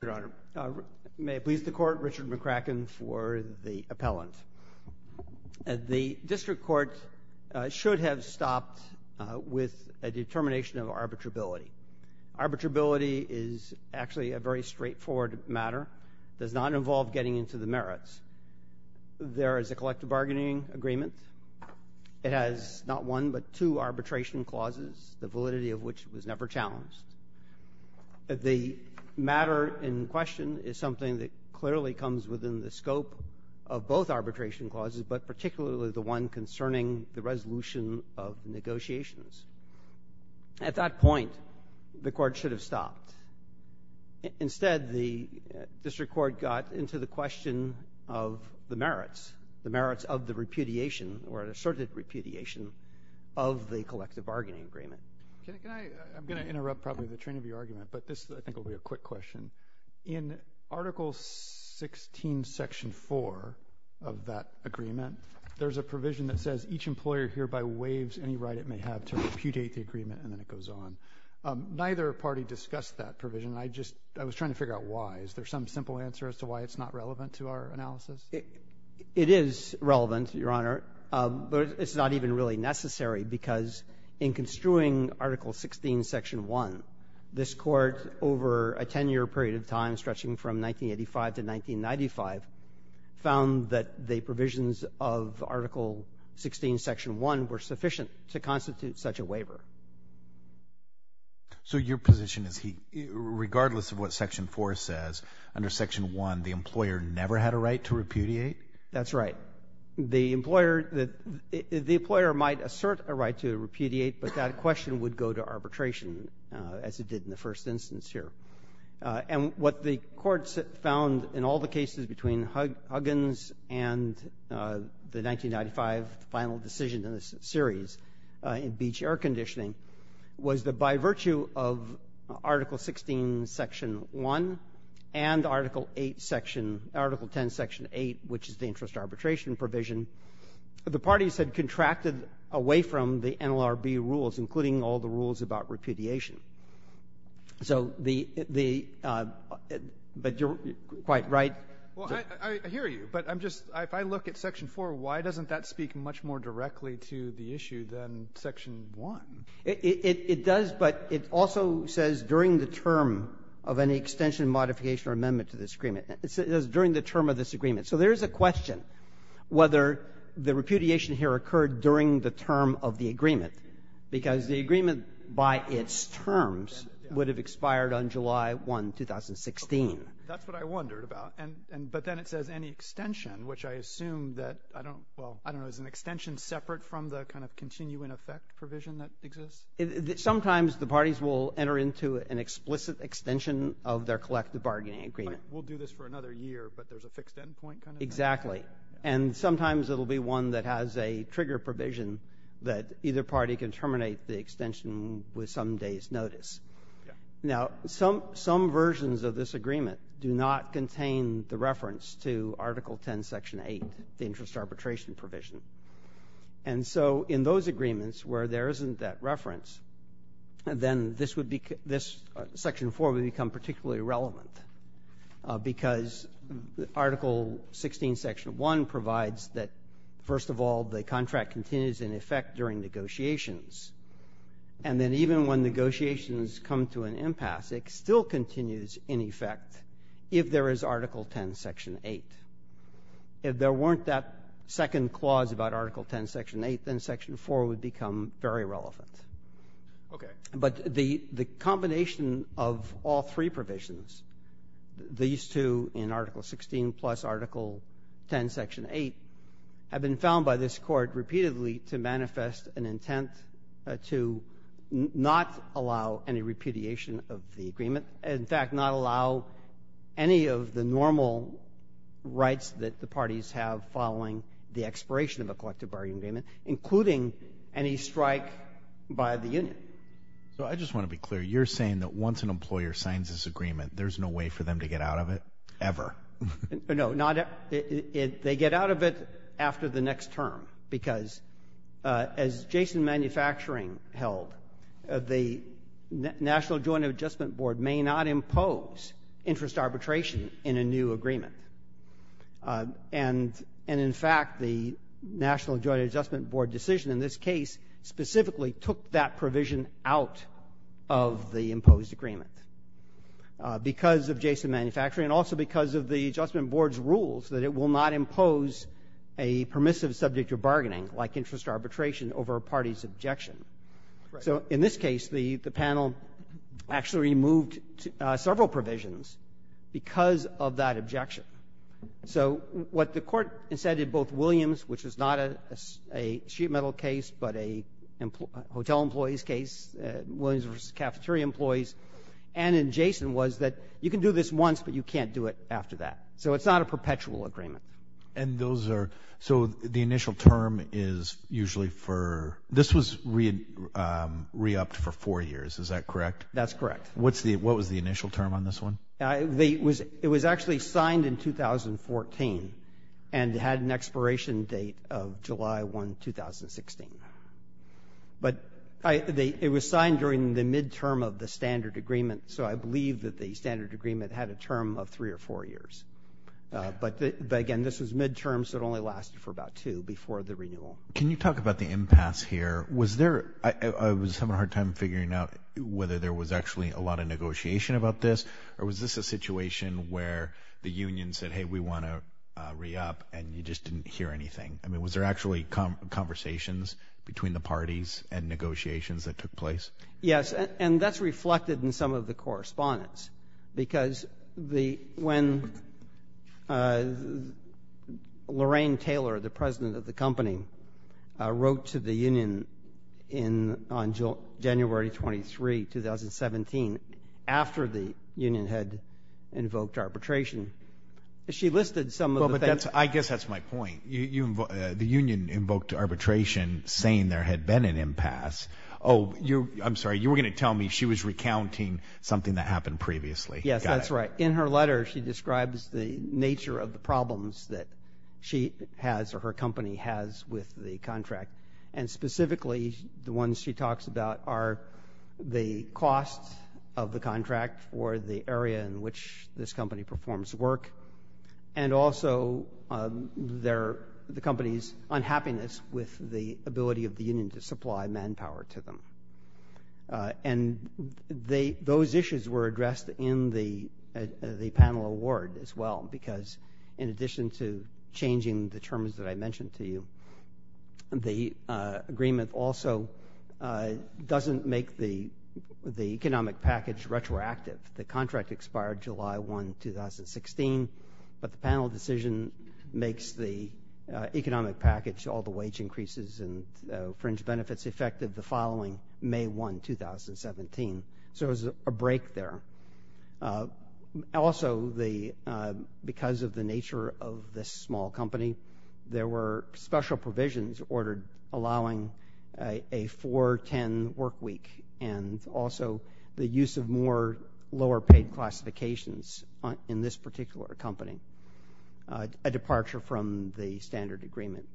Your Honor, may it please the Court, Richard McCracken for the appellant. The District Court should have stopped with a determination of arbitrability. Arbitrability is actually a very straightforward matter. It does not involve getting into the merits. There is a collective bargaining agreement. It has not one but two arbitration clauses, the validity of which was never challenged. The matter in question is something that clearly comes within the scope of both arbitration clauses, but particularly the one concerning the resolution of negotiations. At that point, the Court should have stopped. Instead, the District Court got into the question of the merits, the merits of the repudiation or asserted repudiation of the collective bargaining agreement. I'm going to interrupt probably the train of your argument, but this I think will be a quick question. In Article 16, Section 4 of that agreement, there's a provision that says each employer hereby waives any right it may have to repudiate the agreement, and then it goes on. Neither party discussed that provision. I was trying to figure out why. Is there some simple answer as to why it's not relevant to our analysis? It is relevant, Your Honor, but it's not even really necessary because in construing Article 16, Section 1, this Court over a 10-year period of time stretching from 1985 to 1995 found that the provisions of Article 16, Section 1 were sufficient to constitute such a waiver. So your position is regardless of what Section 4 says, under Section 1 the employer never had a right to repudiate? That's right. The employer might assert a right to repudiate, but that question would go to arbitration as it did in the first instance here. And what the Court found in all the cases between Huggins and the 1995 final decision in this series in beach air conditioning was that by virtue of Article 16, Section 1, and Article 8, Section — Article 10, Section 8, which is the interest arbitration provision, the parties had contracted away from the NLRB rules, including all the rules about repudiation. So the — but you're quite right. Well, I hear you, but I'm just — if I look at Section 4, why doesn't that speak much more directly to the issue than Section 1? It does, but it also says during the term of any extension, modification or amendment to this agreement. It says during the term of this agreement. So there is a question whether the repudiation here occurred during the term of the agreement, because the agreement by its terms would have expired on July 1, 2016. That's what I wondered about. But then it says any extension, which I assume that — I don't know. Is an extension separate from the kind of continuing effect provision that exists? Sometimes the parties will enter into an explicit extension of their collective bargaining agreement. We'll do this for another year, but there's a fixed end point kind of thing. Exactly. And sometimes it will be one that has a trigger provision that either party can terminate the extension with some day's notice. Yeah. Now, some versions of this agreement do not contain the reference to Article 10, Section 8, the interest arbitration provision. And so in those agreements where there isn't that reference, then this would be — Section 4 would become particularly relevant, because Article 16, Section 1, provides that, first of all, the contract continues in effect during negotiations, and then even when negotiations come to an impasse, it still continues in effect if there is Article 10, Section 8. If there weren't that second clause about Article 10, Section 8, then Section 4 would become very relevant. Okay. But the combination of all three provisions, these two in Article 16 plus Article 10, Section 8, have been found by this Court repeatedly to manifest an intent to not allow any repudiation of the agreement, in fact, not allow any of the normal rights that the parties have following the expiration of a collective bargaining agreement, including any strike by the union. So I just want to be clear. You're saying that once an employer signs this agreement, there's no way for them to get out of it ever? No, not — they get out of it after the next term, because as Jason Manufacturing held, the National Joint Adjustment Board may not impose interest arbitration in a new agreement. And in fact, the National Joint Adjustment Board decision in this case specifically took that provision out of the imposed agreement because of Jason Manufacturing and also because of the Adjustment Board's rules that it will not impose a permissive subject of bargaining like interest arbitration over a party's objection. Right. So in this case, the panel actually removed several provisions because of that objection. So what the Court said in both Williams, which is not a sheet metal case, but a hotel employee's case, Williams v. Cafeteria Employees, and in Jason was that you can do this once, but you can't do it after that. So it's not a perpetual agreement. And those are — so the initial term is usually for — this was re-upped for four years. Is that correct? That's correct. What was the initial term on this one? It was actually signed in 2014 and had an expiration date of July 1, 2016. But it was signed during the midterm of the standard agreement, so I believe that the standard agreement had a term of three or four years. But again, this was midterm, so it only lasted for about two before the renewal. Can you talk about the impasse here? Was there — I was having a hard time figuring out whether there was actually a lot of negotiation about this, or was this a situation where the union said, hey, we want to re-up, and you just didn't hear anything? I mean, was there actually conversations between the parties and negotiations that took place? Yes. And that's reflected in some of the correspondence, because when Lorraine Taylor, the president of the company, wrote to the union on January 23, 2017, after the union had invoked arbitration, she listed some of the things. Well, but I guess that's my point. The union invoked arbitration saying there had been an impasse. Oh, I'm sorry. You were going to tell me she was recounting something that happened previously. Yes, that's right. In her letter, she describes the nature of the problems that she has or her company has with the contract. And specifically, the ones she talks about are the cost of the contract or the area in which this company performs work, in addition to supply manpower to them. And those issues were addressed in the panel award as well, because in addition to changing the terms that I mentioned to you, the agreement also doesn't make the economic package retroactive. The contract expired July 1, 2016, but the panel decision makes the economic package, all the wage increases and fringe benefits effective the following May 1, 2017. So there was a break there. Also, because of the nature of this small company, there were special provisions ordered allowing a 4-10 work week and also the use of more lower-paid classifications in this particular company, a departure from the standard agreement.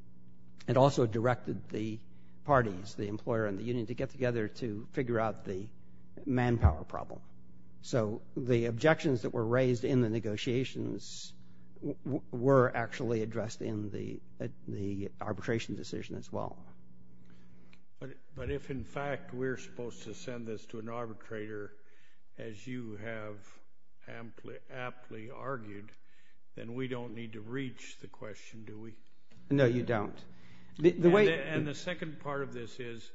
It also directed the parties, the employer and the union, to get together to figure out the manpower problem. So the objections that were raised in the negotiations were actually addressed in the arbitration decision as well. But if, in fact, we're supposed to send this to an arbitrator, as you have aptly argued, then we don't need to reach the question, do we? No, you don't. And the second part of this is,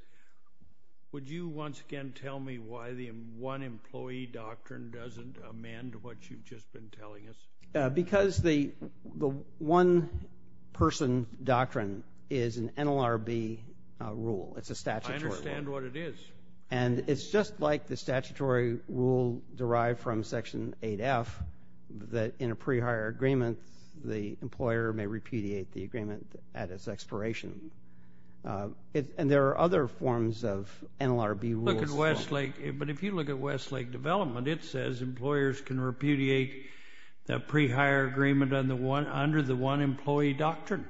would you once again tell me why the one-employee doctrine doesn't amend what you've just been telling us? Because the one-person doctrine is an NLRB rule. It's a statutory rule. I understand what it is. And it's just like the statutory rule derived from Section 8F, that in a pre-hire agreement, the employer may repudiate the agreement at its expiration. And there are other forms of NLRB rules. But if you look at Westlake Development, it says employers can repudiate the pre-hire agreement under the one-employee doctrine.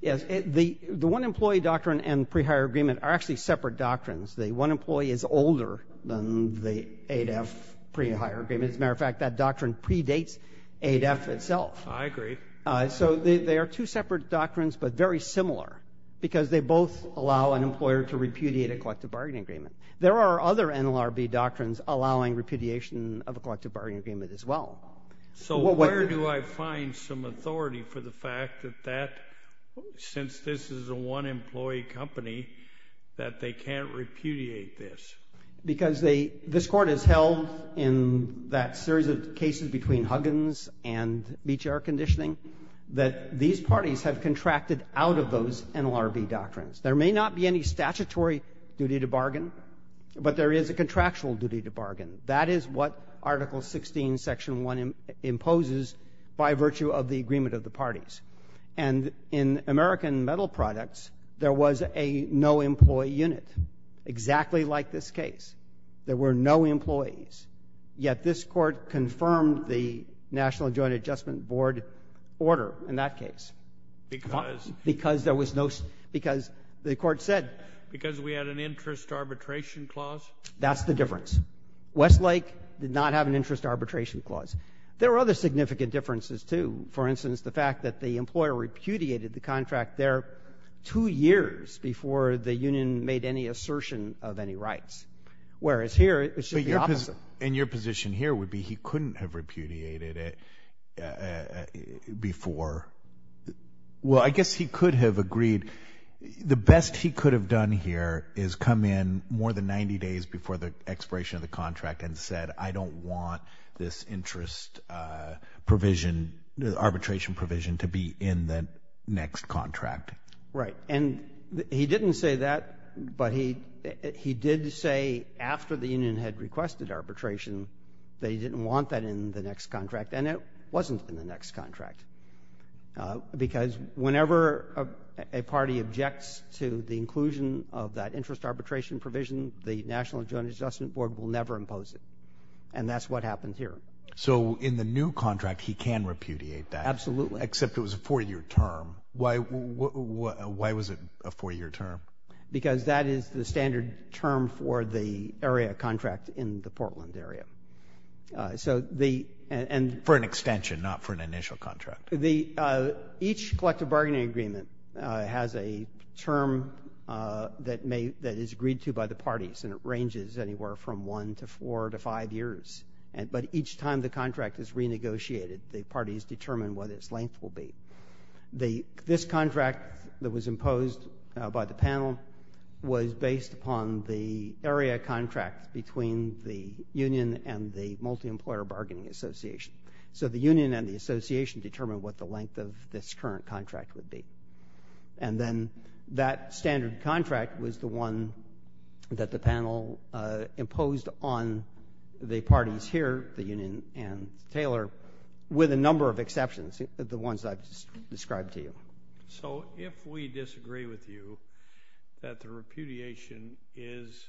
Yes. The one-employee doctrine and pre-hire agreement are actually separate doctrines. The one employee is older than the 8F pre-hire agreement. As a matter of fact, that doctrine predates 8F itself. I agree. So they are two separate doctrines, but very similar because they both allow an employer to repudiate a collective bargaining agreement. There are other NLRB doctrines allowing repudiation of a collective bargaining agreement as well. So where do I find some authority for the fact that that, since this is a one-employee company, that they can't repudiate this? Because they — this Court has held in that series of cases between Huggins and Beach Air Conditioning that these parties have contracted out of those NLRB doctrines. There may not be any statutory duty to bargain, but there is a contractual duty to bargain. That is what Article 16, Section 1 imposes by virtue of the agreement of the parties. And in American Metal Products, there was a no-employee unit, exactly like this case. There were no employees. Yet this Court confirmed the National Joint Adjustment Board order in that case. Because? Because there was no — because the Court said — Because we had an interest arbitration clause? That's the difference. Westlake did not have an interest arbitration clause. There were other significant differences, too. For instance, the fact that the employer repudiated the contract there two years before the union made any assertion of any rights, whereas here it should be the opposite. But your position here would be he couldn't have repudiated it before. Well, I guess he could have agreed. The best he could have done here is come in more than 90 days before the expiration of the contract and said, I don't want this interest provision, arbitration provision, to be in the next contract. Right. And he didn't say that, but he did say after the union had requested arbitration that he didn't want that in the next contract, and it wasn't in the next contract. Because whenever a party objects to the inclusion of that interest arbitration provision, the National Joint Adjustment Board will never impose it. And that's what happened here. So in the new contract he can repudiate that. Absolutely. Except it was a four-year term. Why was it a four-year term? Because that is the standard term for the area contract in the Portland area. For an extension, not for an initial contract. Each collective bargaining agreement has a term that is agreed to by the parties, and it ranges anywhere from one to four to five years. But each time the contract is renegotiated, the parties determine what its length will be. This contract that was imposed by the panel was based upon the area contract between the union and the multi-employer bargaining association. So the union and the association determined what the length of this current contract would be. And then that standard contract was the one that the panel imposed on the parties here, the union and Taylor, with a number of exceptions, the ones I've described to you. So if we disagree with you that the repudiation is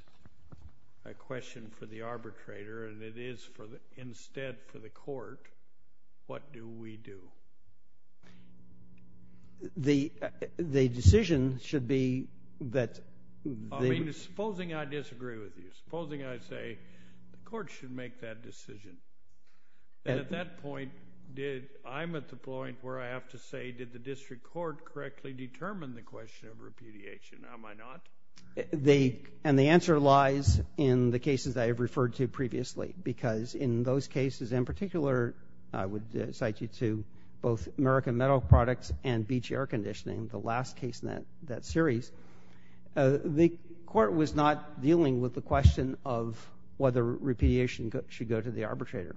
a question for the arbitrator and it is instead for the court, what do we do? The decision should be that the— Supposing I disagree with you. Supposing I say the court should make that decision. At that point, I'm at the point where I have to say, did the district court correctly determine the question of repudiation? Am I not? And the answer lies in the cases I have referred to previously because in those cases in particular, I would cite you to both American Metal Products and Beach Air Conditioning, the last case in that series. The court was not dealing with the question of whether repudiation should go to the arbitrator.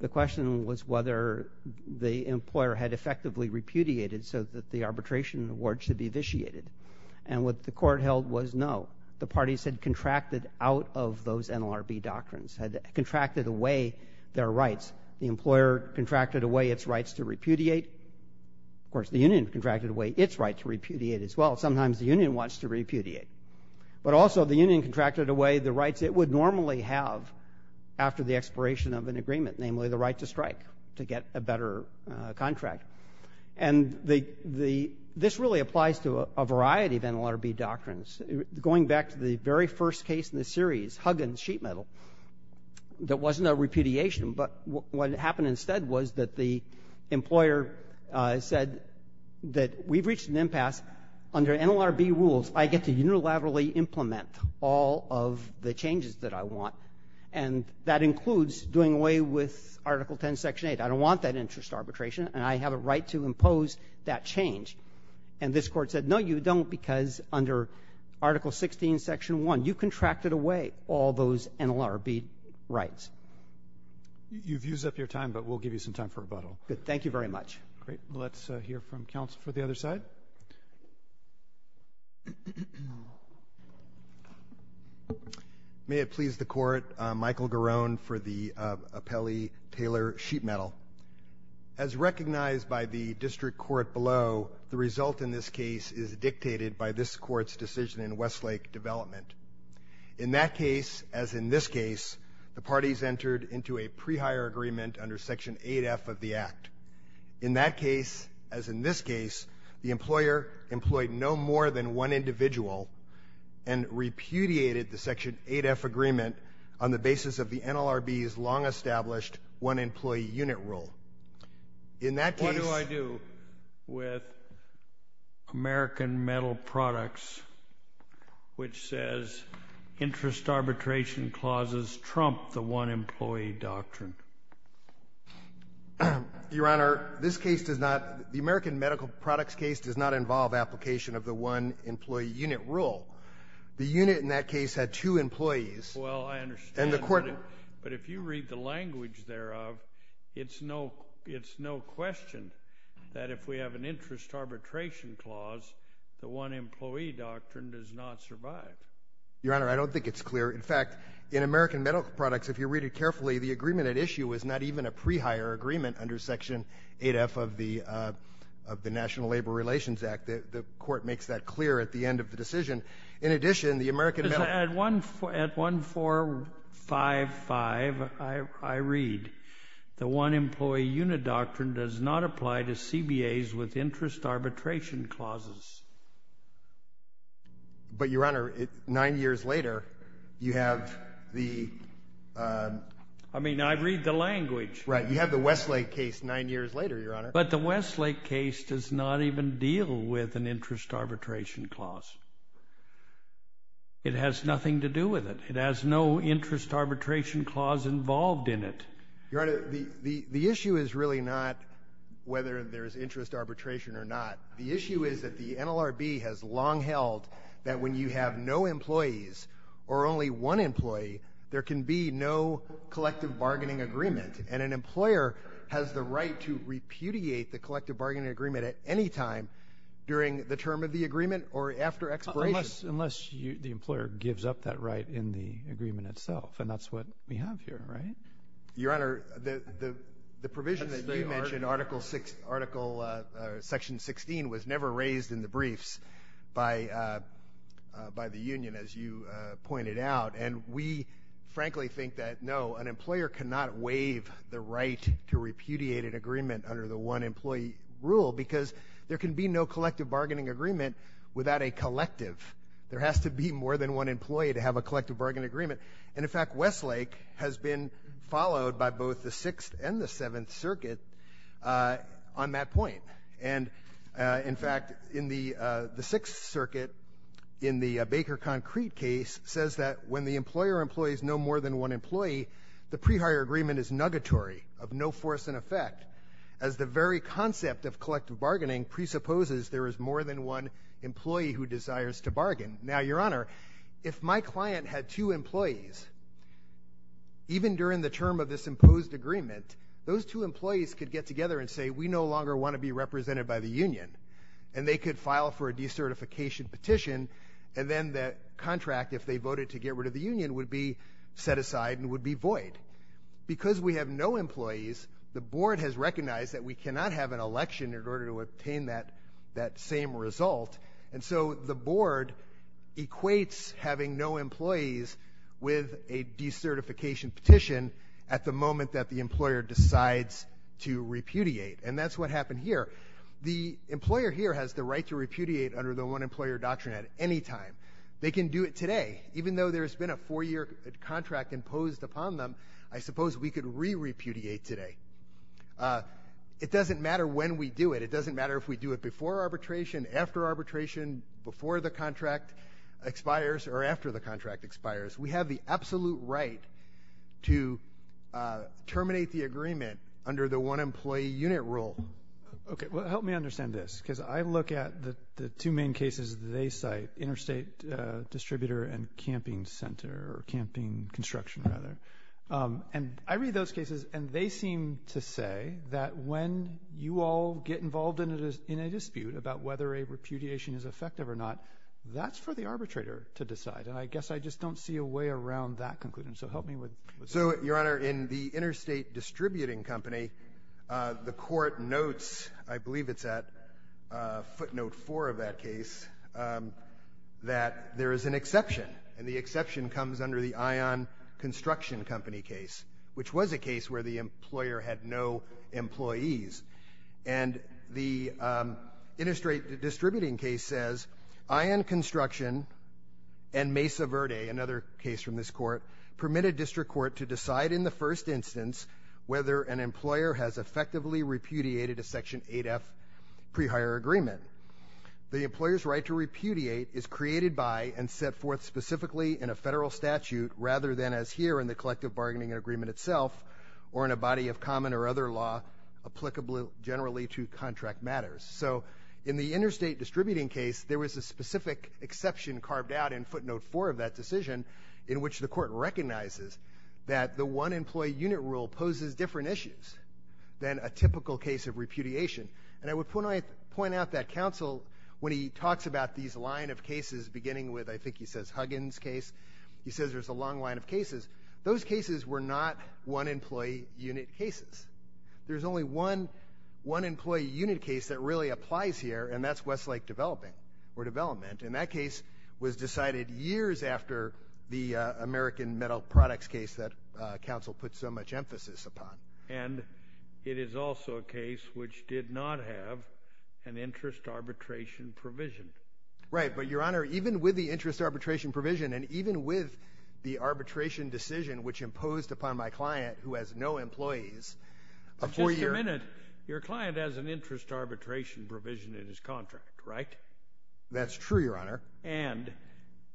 The question was whether the employer had effectively repudiated so that the arbitration award should be vitiated. And what the court held was no. The parties had contracted out of those NLRB doctrines, had contracted away their rights. The employer contracted away its rights to repudiate. Of course, the union contracted away its right to repudiate as well. Sometimes the union wants to repudiate. But also the union contracted away the rights it would normally have after the expiration of an agreement, namely the right to strike to get a better contract. And this really applies to a variety of NLRB doctrines. Going back to the very first case in the series, Huggins Sheet Metal, that wasn't a repudiation. But what happened instead was that the employer said that we've reached an impasse. Under NLRB rules, I get to unilaterally implement all of the changes that I want. And that includes doing away with Article 10, Section 8. I don't want that interest arbitration, and I have a right to impose that change. And this court said, no, you don't, because under Article 16, Section 1, you contracted away all those NLRB rights. You've used up your time, but we'll give you some time for rebuttal. Good. Thank you very much. Great. Let's hear from counsel for the other side. May it please the Court, Michael Garone for the appellee Taylor Sheet Metal. As recognized by the district court below, the result in this case is dictated by this court's decision in Westlake Development. In that case, as in this case, the parties entered into a pre-hire agreement under Section 8F of the Act. In that case, as in this case, the employer employed no more than one individual and repudiated the Section 8F agreement on the basis of the NLRB's long-established one-employee unit rule. What do I do with American Metal Products, which says interest arbitration clauses trump the one-employee doctrine? Your Honor, this case does not, the American Metal Products case does not involve application of the one-employee unit rule. The unit in that case had two employees. Well, I understand, but if you read the language thereof, it's no question that if we have an interest arbitration clause, the one-employee doctrine does not survive. Your Honor, I don't think it's clear. In fact, in American Metal Products, if you read it carefully, the agreement at issue was not even a pre-hire agreement under Section 8F of the National Labor Relations Act. The Court makes that clear at the end of the decision. In addition, the American Metal Products… At 1455, I read, the one-employee unit doctrine does not apply to CBAs with interest arbitration clauses. But, Your Honor, nine years later, you have the… I mean, I read the language. Right. You have the Westlake case nine years later, Your Honor. But the Westlake case does not even deal with an interest arbitration clause. It has nothing to do with it. It has no interest arbitration clause involved in it. Your Honor, the issue is really not whether there is interest arbitration or not. The issue is that the NLRB has long held that when you have no employees or only one employee, there can be no collective bargaining agreement. And an employer has the right to repudiate the collective bargaining agreement at any time during the term of the agreement or after expiration. Unless the employer gives up that right in the agreement itself. And that's what we have here, right? Your Honor, the provision that you mentioned, Article Section 16, was never raised in the briefs by the union, as you pointed out. And we frankly think that, no, an employer cannot waive the right to repudiate an agreement under the one-employee rule because there can be no collective bargaining agreement without a collective. There has to be more than one employee to have a collective bargaining agreement. And, in fact, Westlake has been followed by both the Sixth and the Seventh Circuit on that point. And, in fact, in the Sixth Circuit, in the Baker Concrete case, says that when the employer employs no more than one employee, the pre-hire agreement is nugatory, of no force in effect, as the very concept of collective bargaining presupposes there is more than one employee who desires to bargain. Now, Your Honor, if my client had two employees, even during the term of this imposed agreement, those two employees could get together and say, we no longer want to be represented by the union. And they could file for a decertification petition, and then that contract, if they voted to get rid of the union, would be set aside and would be void. Because we have no employees, the board has recognized that we cannot have an election in order to obtain that same result. And so the board equates having no employees with a decertification petition at the moment that the employer decides to repudiate. And that's what happened here. The employer here has the right to repudiate under the one-employer doctrine at any time. They can do it today. Even though there's been a four-year contract imposed upon them, I suppose we could re-repudiate today. It doesn't matter when we do it. It doesn't matter if we do it before arbitration, after arbitration, before the contract expires, or after the contract expires. We have the absolute right to terminate the agreement under the one-employee unit rule. Okay. Well, help me understand this, because I look at the two main cases they cite, interstate distributor and camping center, or camping construction, rather. And I read those cases, and they seem to say that when you all get involved in a dispute about whether a repudiation is effective or not, that's for the arbitrator to decide. And I guess I just don't see a way around that conclusion. So help me with that. So, Your Honor, in the interstate distributing company, the court notes, I believe it's at footnote four of that case, that there is an exception. And the exception comes under the Ion Construction Company case, which was a case where the employer had no employees. And the interstate distributing case says, Ion Construction and Mesa Verde, another case from this court, permit a district court to decide in the first instance whether an employer has effectively repudiated a Section 8F pre-hire agreement. The employer's right to repudiate is created by and set forth specifically in a federal statute rather than as here in the collective bargaining agreement itself or in a body of common or other law applicable generally to contract matters. So in the interstate distributing case, there was a specific exception carved out in footnote four of that decision in which the court recognizes that the one-employee unit rule poses different issues than a typical case of repudiation. And I would point out that counsel, when he talks about these line of cases, beginning with I think he says Huggins case, he says there's a long line of cases, those cases were not one-employee unit cases. There's only one employee unit case that really applies here, and that's Westlake Development. And that case was decided years after the American Metal Products case that counsel put so much emphasis upon. And it is also a case which did not have an interest arbitration provision. Right. But, Your Honor, even with the interest arbitration provision and even with the arbitration decision which imposed upon my client who has no employees, a four-year— Just a minute. Your client has an interest arbitration provision in his contract, right? That's true, Your Honor. And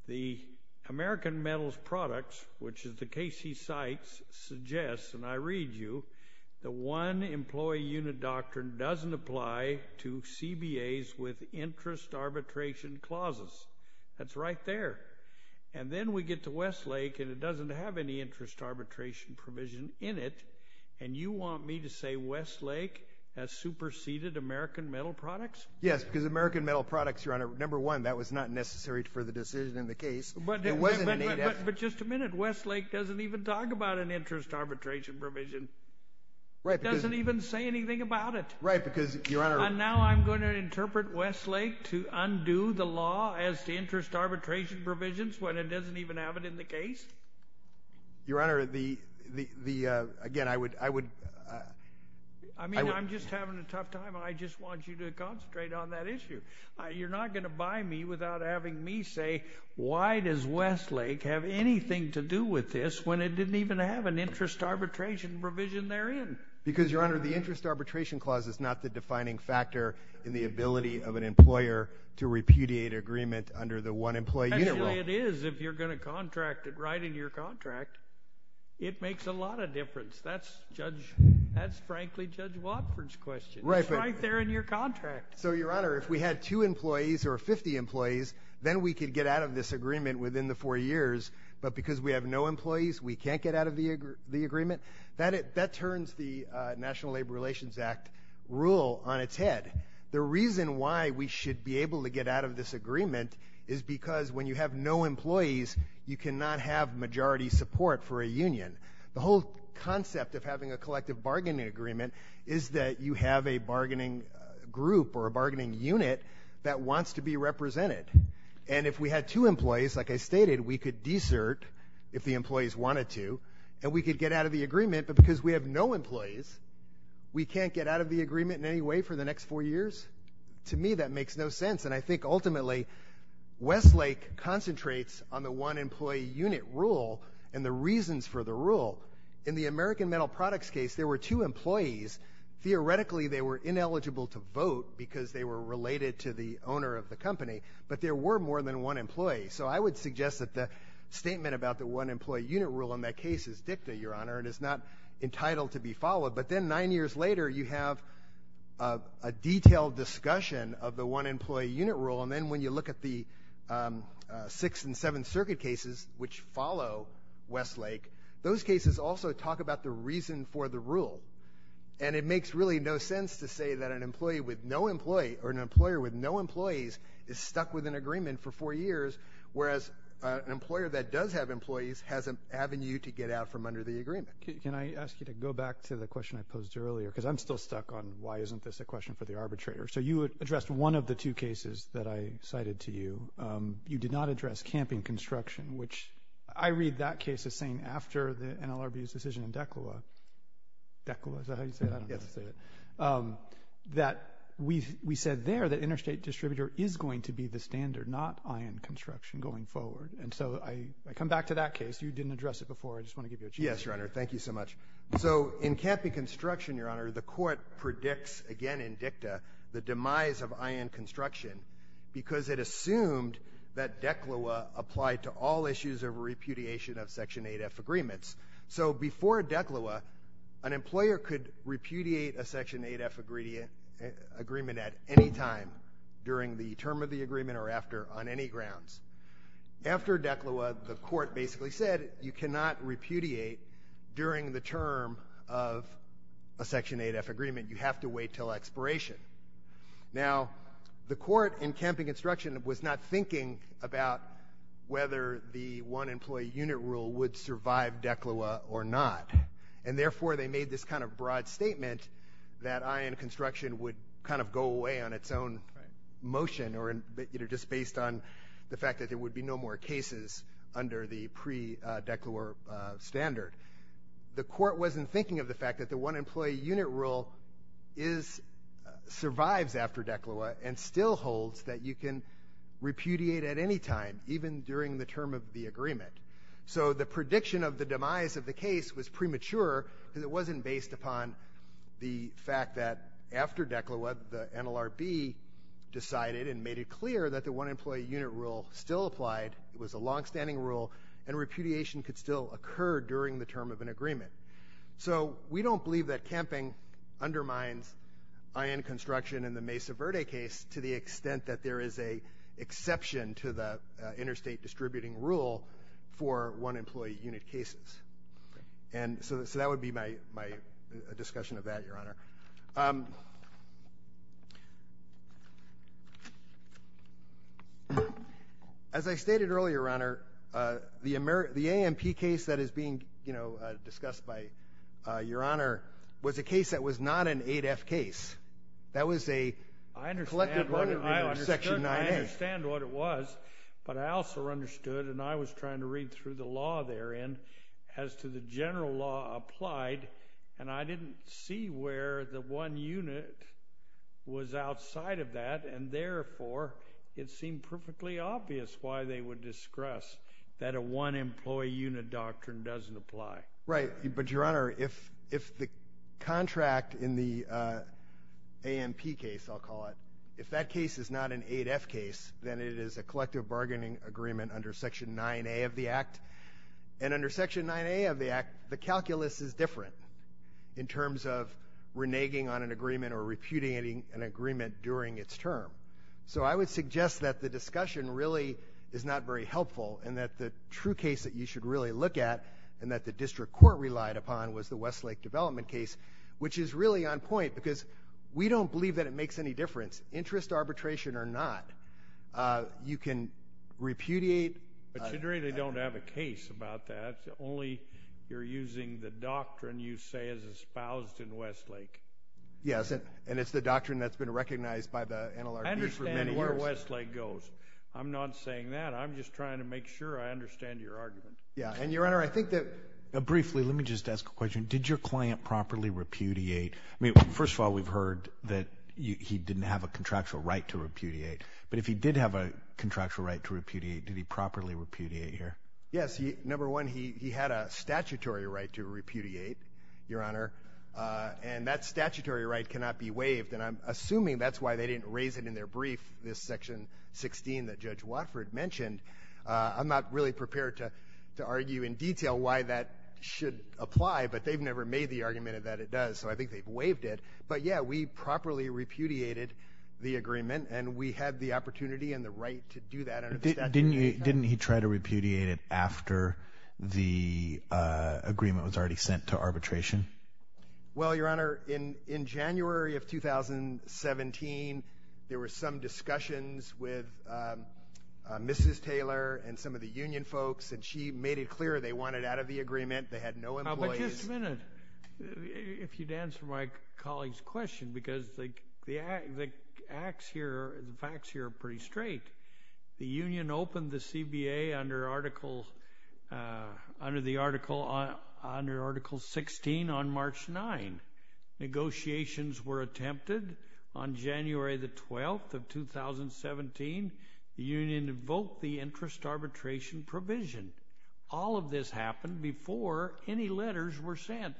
the American Metals Products, which is the case he cites, suggests, and I read you, the one-employee unit doctrine doesn't apply to CBAs with interest arbitration clauses. That's right there. And then we get to Westlake and it doesn't have any interest arbitration provision in it, and you want me to say Westlake has superseded American Metal Products? Yes, because American Metal Products, Your Honor, number one, that was not necessary for the decision in the case. But just a minute. Westlake doesn't even talk about an interest arbitration provision. It doesn't even say anything about it. Right, because, Your Honor— And now I'm going to interpret Westlake to undo the law as to interest arbitration provisions when it doesn't even have it in the case? Your Honor, again, I would— I mean, I'm just having a tough time. I just want you to concentrate on that issue. You're not going to buy me without having me say, why does Westlake have anything to do with this when it didn't even have an interest arbitration provision therein? Because, Your Honor, the interest arbitration clause is not the defining factor in the ability of an employer to repudiate agreement under the one-employee unit rule. Actually, it is if you're going to contract it right in your contract. It makes a lot of difference. That's, frankly, Judge Watford's question. It's right there in your contract. So, Your Honor, if we had two employees or 50 employees, then we could get out of this agreement within the four years, but because we have no employees, we can't get out of the agreement? That turns the National Labor Relations Act rule on its head. The reason why we should be able to get out of this agreement is because when you have no employees, you cannot have majority support for a union. The whole concept of having a collective bargaining agreement is that you have a bargaining group or a bargaining unit that wants to be represented. And if we had two employees, like I stated, we could desert if the employees wanted to, and we could get out of the agreement, but because we have no employees, we can't get out of the agreement in any way for the next four years? To me, that makes no sense. And I think, ultimately, Westlake concentrates on the one-employee unit rule and the reasons for the rule. In the American Metal Products case, there were two employees. Theoretically, they were ineligible to vote because they were related to the owner of the company, but there were more than one employee. So I would suggest that the statement about the one-employee unit rule in that case is dicta, Your Honor. It is not entitled to be followed. But then nine years later, you have a detailed discussion of the one-employee unit rule, and then when you look at the Sixth and Seventh Circuit cases, which follow Westlake, those cases also talk about the reason for the rule. And it makes really no sense to say that an employee with no employee or an employer with no employees is stuck with an agreement for four years, whereas an employer that does have employees has an avenue to get out from under the agreement. Can I ask you to go back to the question I posed earlier? Because I'm still stuck on why isn't this a question for the arbitrator. So you addressed one of the two cases that I cited to you. You did not address camping construction, which I read that case as saying after the NLRB's decision in DECLA. DECLA, is that how you say it? I don't know how to say it. That we said there that interstate distributor is going to be the standard, not ion construction going forward. And so I come back to that case. You didn't address it before. I just want to give you a chance. Yes, Your Honor. Thank you so much. So in camping construction, Your Honor, the court predicts again in DICTA the demise of ion construction because it assumed that DECLA applied to all issues of repudiation of Section 8F agreements. So before DECLA, an employer could repudiate a Section 8F agreement at any time during the term of the agreement or after on any grounds. After DECLA, the court basically said you cannot repudiate during the term of a Section 8F agreement. You have to wait until expiration. Now, the court in camping construction was not thinking about whether the one-employee unit rule would survive DECLA or not. And therefore, they made this kind of broad statement that ion construction would kind of go away on its own motion or just based on the fact that there would be no more cases under the pre-DECLA standard. The court wasn't thinking of the fact that the one-employee unit rule survives after DECLA and still holds that you can repudiate at any time, even during the term of the agreement. So the prediction of the demise of the case was premature because it wasn't based upon the fact that after DECLA, the NLRB decided and made it clear that the one-employee unit rule still applied, it was a longstanding rule, and repudiation could still occur during the term of an agreement. So we don't believe that camping undermines ion construction in the Mesa Verde case to the extent that there is an exception to the interstate distributing rule for one-employee unit cases. And so that would be my discussion of that, Your Honor. As I stated earlier, Your Honor, the AMP case that is being discussed by Your Honor was a case that was not an 8F case. That was a collective argument of Section 9A. I understand what it was, but I also understood, and I was trying to read through the law therein as to the general law applied, and I didn't see where the one unit was outside of that, and therefore it seemed perfectly obvious why they would discuss that a one-employee unit doctrine doesn't apply. Right, but Your Honor, if the contract in the AMP case, I'll call it, if that case is not an 8F case, then it is a collective bargaining agreement under Section 9A of the Act, and under Section 9A of the Act, the calculus is different in terms of reneging on an agreement or repudiating an agreement during its term. So I would suggest that the discussion really is not very helpful and that the true case that you should really look at and that the district court relied upon was the Westlake development case, which is really on point because we don't believe that it makes any difference. Interest arbitration or not, you can repudiate. But you really don't have a case about that. Only you're using the doctrine you say is espoused in Westlake. Yes, and it's the doctrine that's been recognized by the NLRB for many years. I understand where Westlake goes. I'm not saying that. I'm just trying to make sure I understand your argument. Yeah, and Your Honor, I think that... Briefly, let me just ask a question. Did your client properly repudiate? First of all, we've heard that he didn't have a contractual right to repudiate, but if he did have a contractual right to repudiate, did he properly repudiate here? Yes, number one, he had a statutory right to repudiate, Your Honor, and that statutory right cannot be waived, and I'm assuming that's why they didn't raise it in their brief, this Section 16 that Judge Watford mentioned. I'm not really prepared to argue in detail why that should apply, but they've never made the argument that it does, so I think they've waived it. But, yeah, we properly repudiated the agreement, and we had the opportunity and the right to do that under the statute. Didn't he try to repudiate it after the agreement was already sent to arbitration? Well, Your Honor, in January of 2017, there were some discussions with Mrs. Taylor and some of the union folks, and she made it clear they wanted out of the agreement. They had no employees. But just a minute, if you'd answer my colleague's question, because the facts here are pretty straight. The union opened the CBA under Article 16 on March 9. Negotiations were attempted on January 12, 2017. The union invoked the interest arbitration provision. All of this happened before any letters were sent.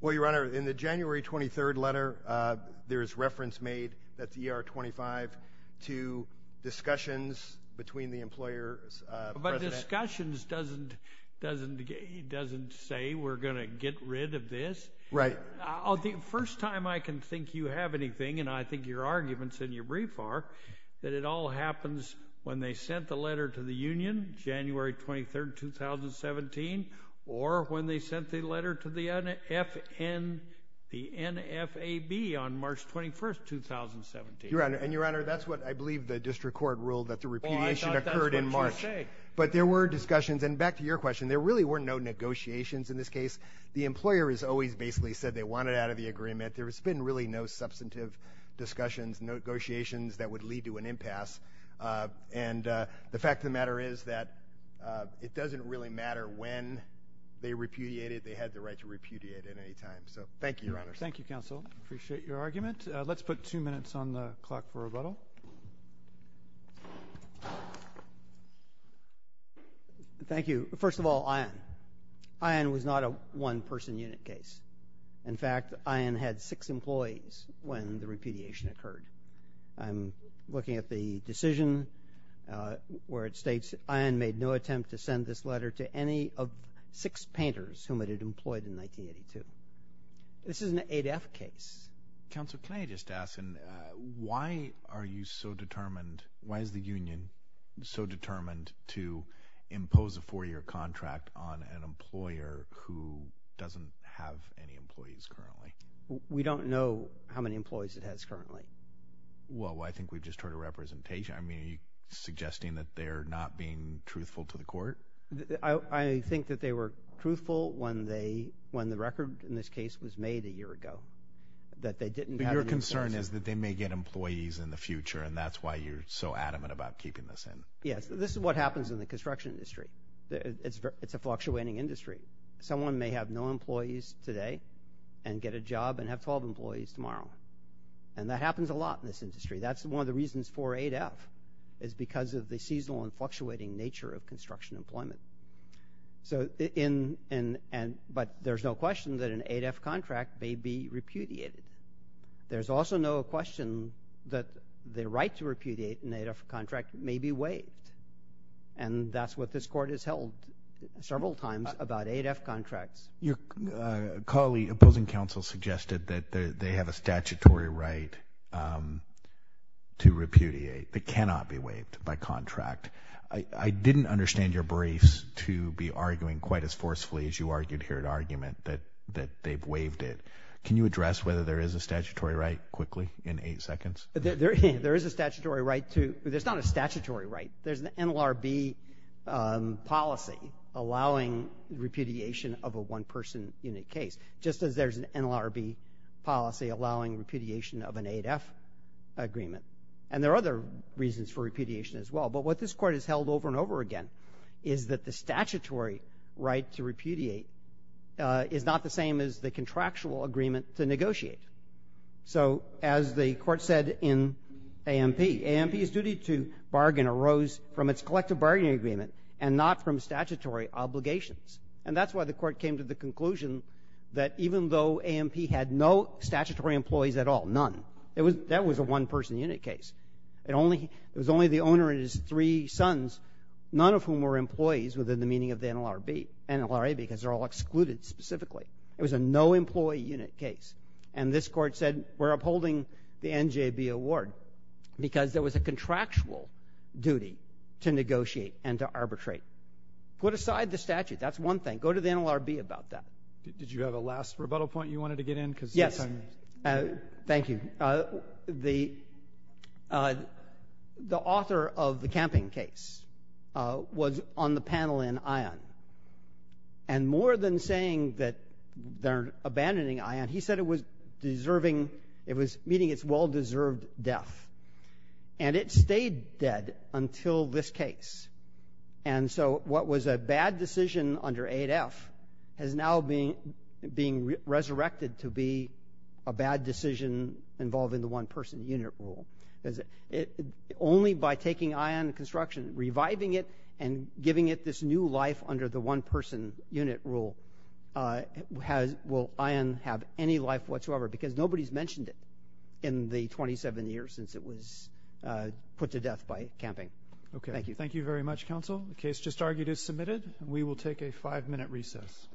Well, Your Honor, in the January 23 letter, there is reference made, that's ER 25, to discussions between the employer's president. But discussions doesn't say we're going to get rid of this. Right. The first time I can think you have anything, and I think your arguments in your brief are, that it all happens when they sent the letter to the union, January 23, 2017, or when they sent the letter to the NFAB on March 21, 2017. And, Your Honor, that's what I believe the district court ruled, that the repudiation occurred in March. But there were discussions, and back to your question, there really were no negotiations in this case. The employer has always basically said they wanted out of the agreement. There has been really no substantive discussions, negotiations that would lead to an impasse. And the fact of the matter is that it doesn't really matter when they repudiated. They had the right to repudiate at any time. So thank you, Your Honor. Thank you, counsel. I appreciate your argument. Let's put two minutes on the clock for rebuttal. Thank you. First of all, Ian. Ian was not a one-person unit case. In fact, Ian had six employees when the repudiation occurred. I'm looking at the decision where it states, Ian made no attempt to send this letter to any of six painters whom it had employed in 1982. This is an 8F case. Counsel, can I just ask, why are you so determined, why is the union so determined to impose a four-year contract on an employer who doesn't have any employees currently? We don't know how many employees it has currently. Well, I think we just heard a representation. I mean, are you suggesting that they're not being truthful to the court? I think that they were truthful when the record in this case was made a year ago, that they didn't have any employees. But your concern is that they may get employees in the future, and that's why you're so adamant about keeping this in. Yes, this is what happens in the construction industry. It's a fluctuating industry. Someone may have no employees today and get a job and have 12 employees tomorrow, and that happens a lot in this industry. That's one of the reasons for 8F is because of the seasonal and fluctuating nature of construction employment. But there's no question that an 8F contract may be repudiated. There's also no question that the right to repudiate an 8F contract may be waived, and that's what this court has held several times about 8F contracts. Your colleague, opposing counsel, suggested that they have a statutory right to repudiate that cannot be waived by contract. I didn't understand your briefs to be arguing quite as forcefully as you argued here in argument that they've waived it. Can you address whether there is a statutory right quickly in eight seconds? There is a statutory right. There's not a statutory right. There's an NLRB policy allowing repudiation of a one-person unit case, just as there's an NLRB policy allowing repudiation of an 8F agreement. And there are other reasons for repudiation as well, but what this court has held over and over again is that the statutory right to repudiate is not the same as the contractual agreement to negotiate. So as the court said in AMP, AMP's duty to bargain arose from its collective bargaining agreement and not from statutory obligations, and that's why the court came to the conclusion that even though AMP had no statutory employees at all, none, that was a one-person unit case. It was only the owner and his three sons, none of whom were employees within the meaning of the NLRB, NLRA, because they're all excluded specifically. It was a no-employee unit case. And this court said we're upholding the NJB award because there was a contractual duty to negotiate and to arbitrate. Put aside the statute. That's one thing. Go to the NLRB about that. Did you have a last rebuttal point you wanted to get in? Yes. Thank you. The author of the camping case was on the panel in ION. And more than saying that they're abandoning ION, he said it was deserving, it was meeting its well-deserved death. And it stayed dead until this case. And so what was a bad decision under 8F is now being resurrected to be a bad decision involving the one-person unit rule. Only by taking ION construction, reviving it, and giving it this new life under the one-person unit rule will ION have any life whatsoever, because nobody's mentioned it in the 27 years since it was put to death by camping. Okay. Thank you. Thank you very much, counsel. The case just argued is submitted, and we will take a five-minute recess.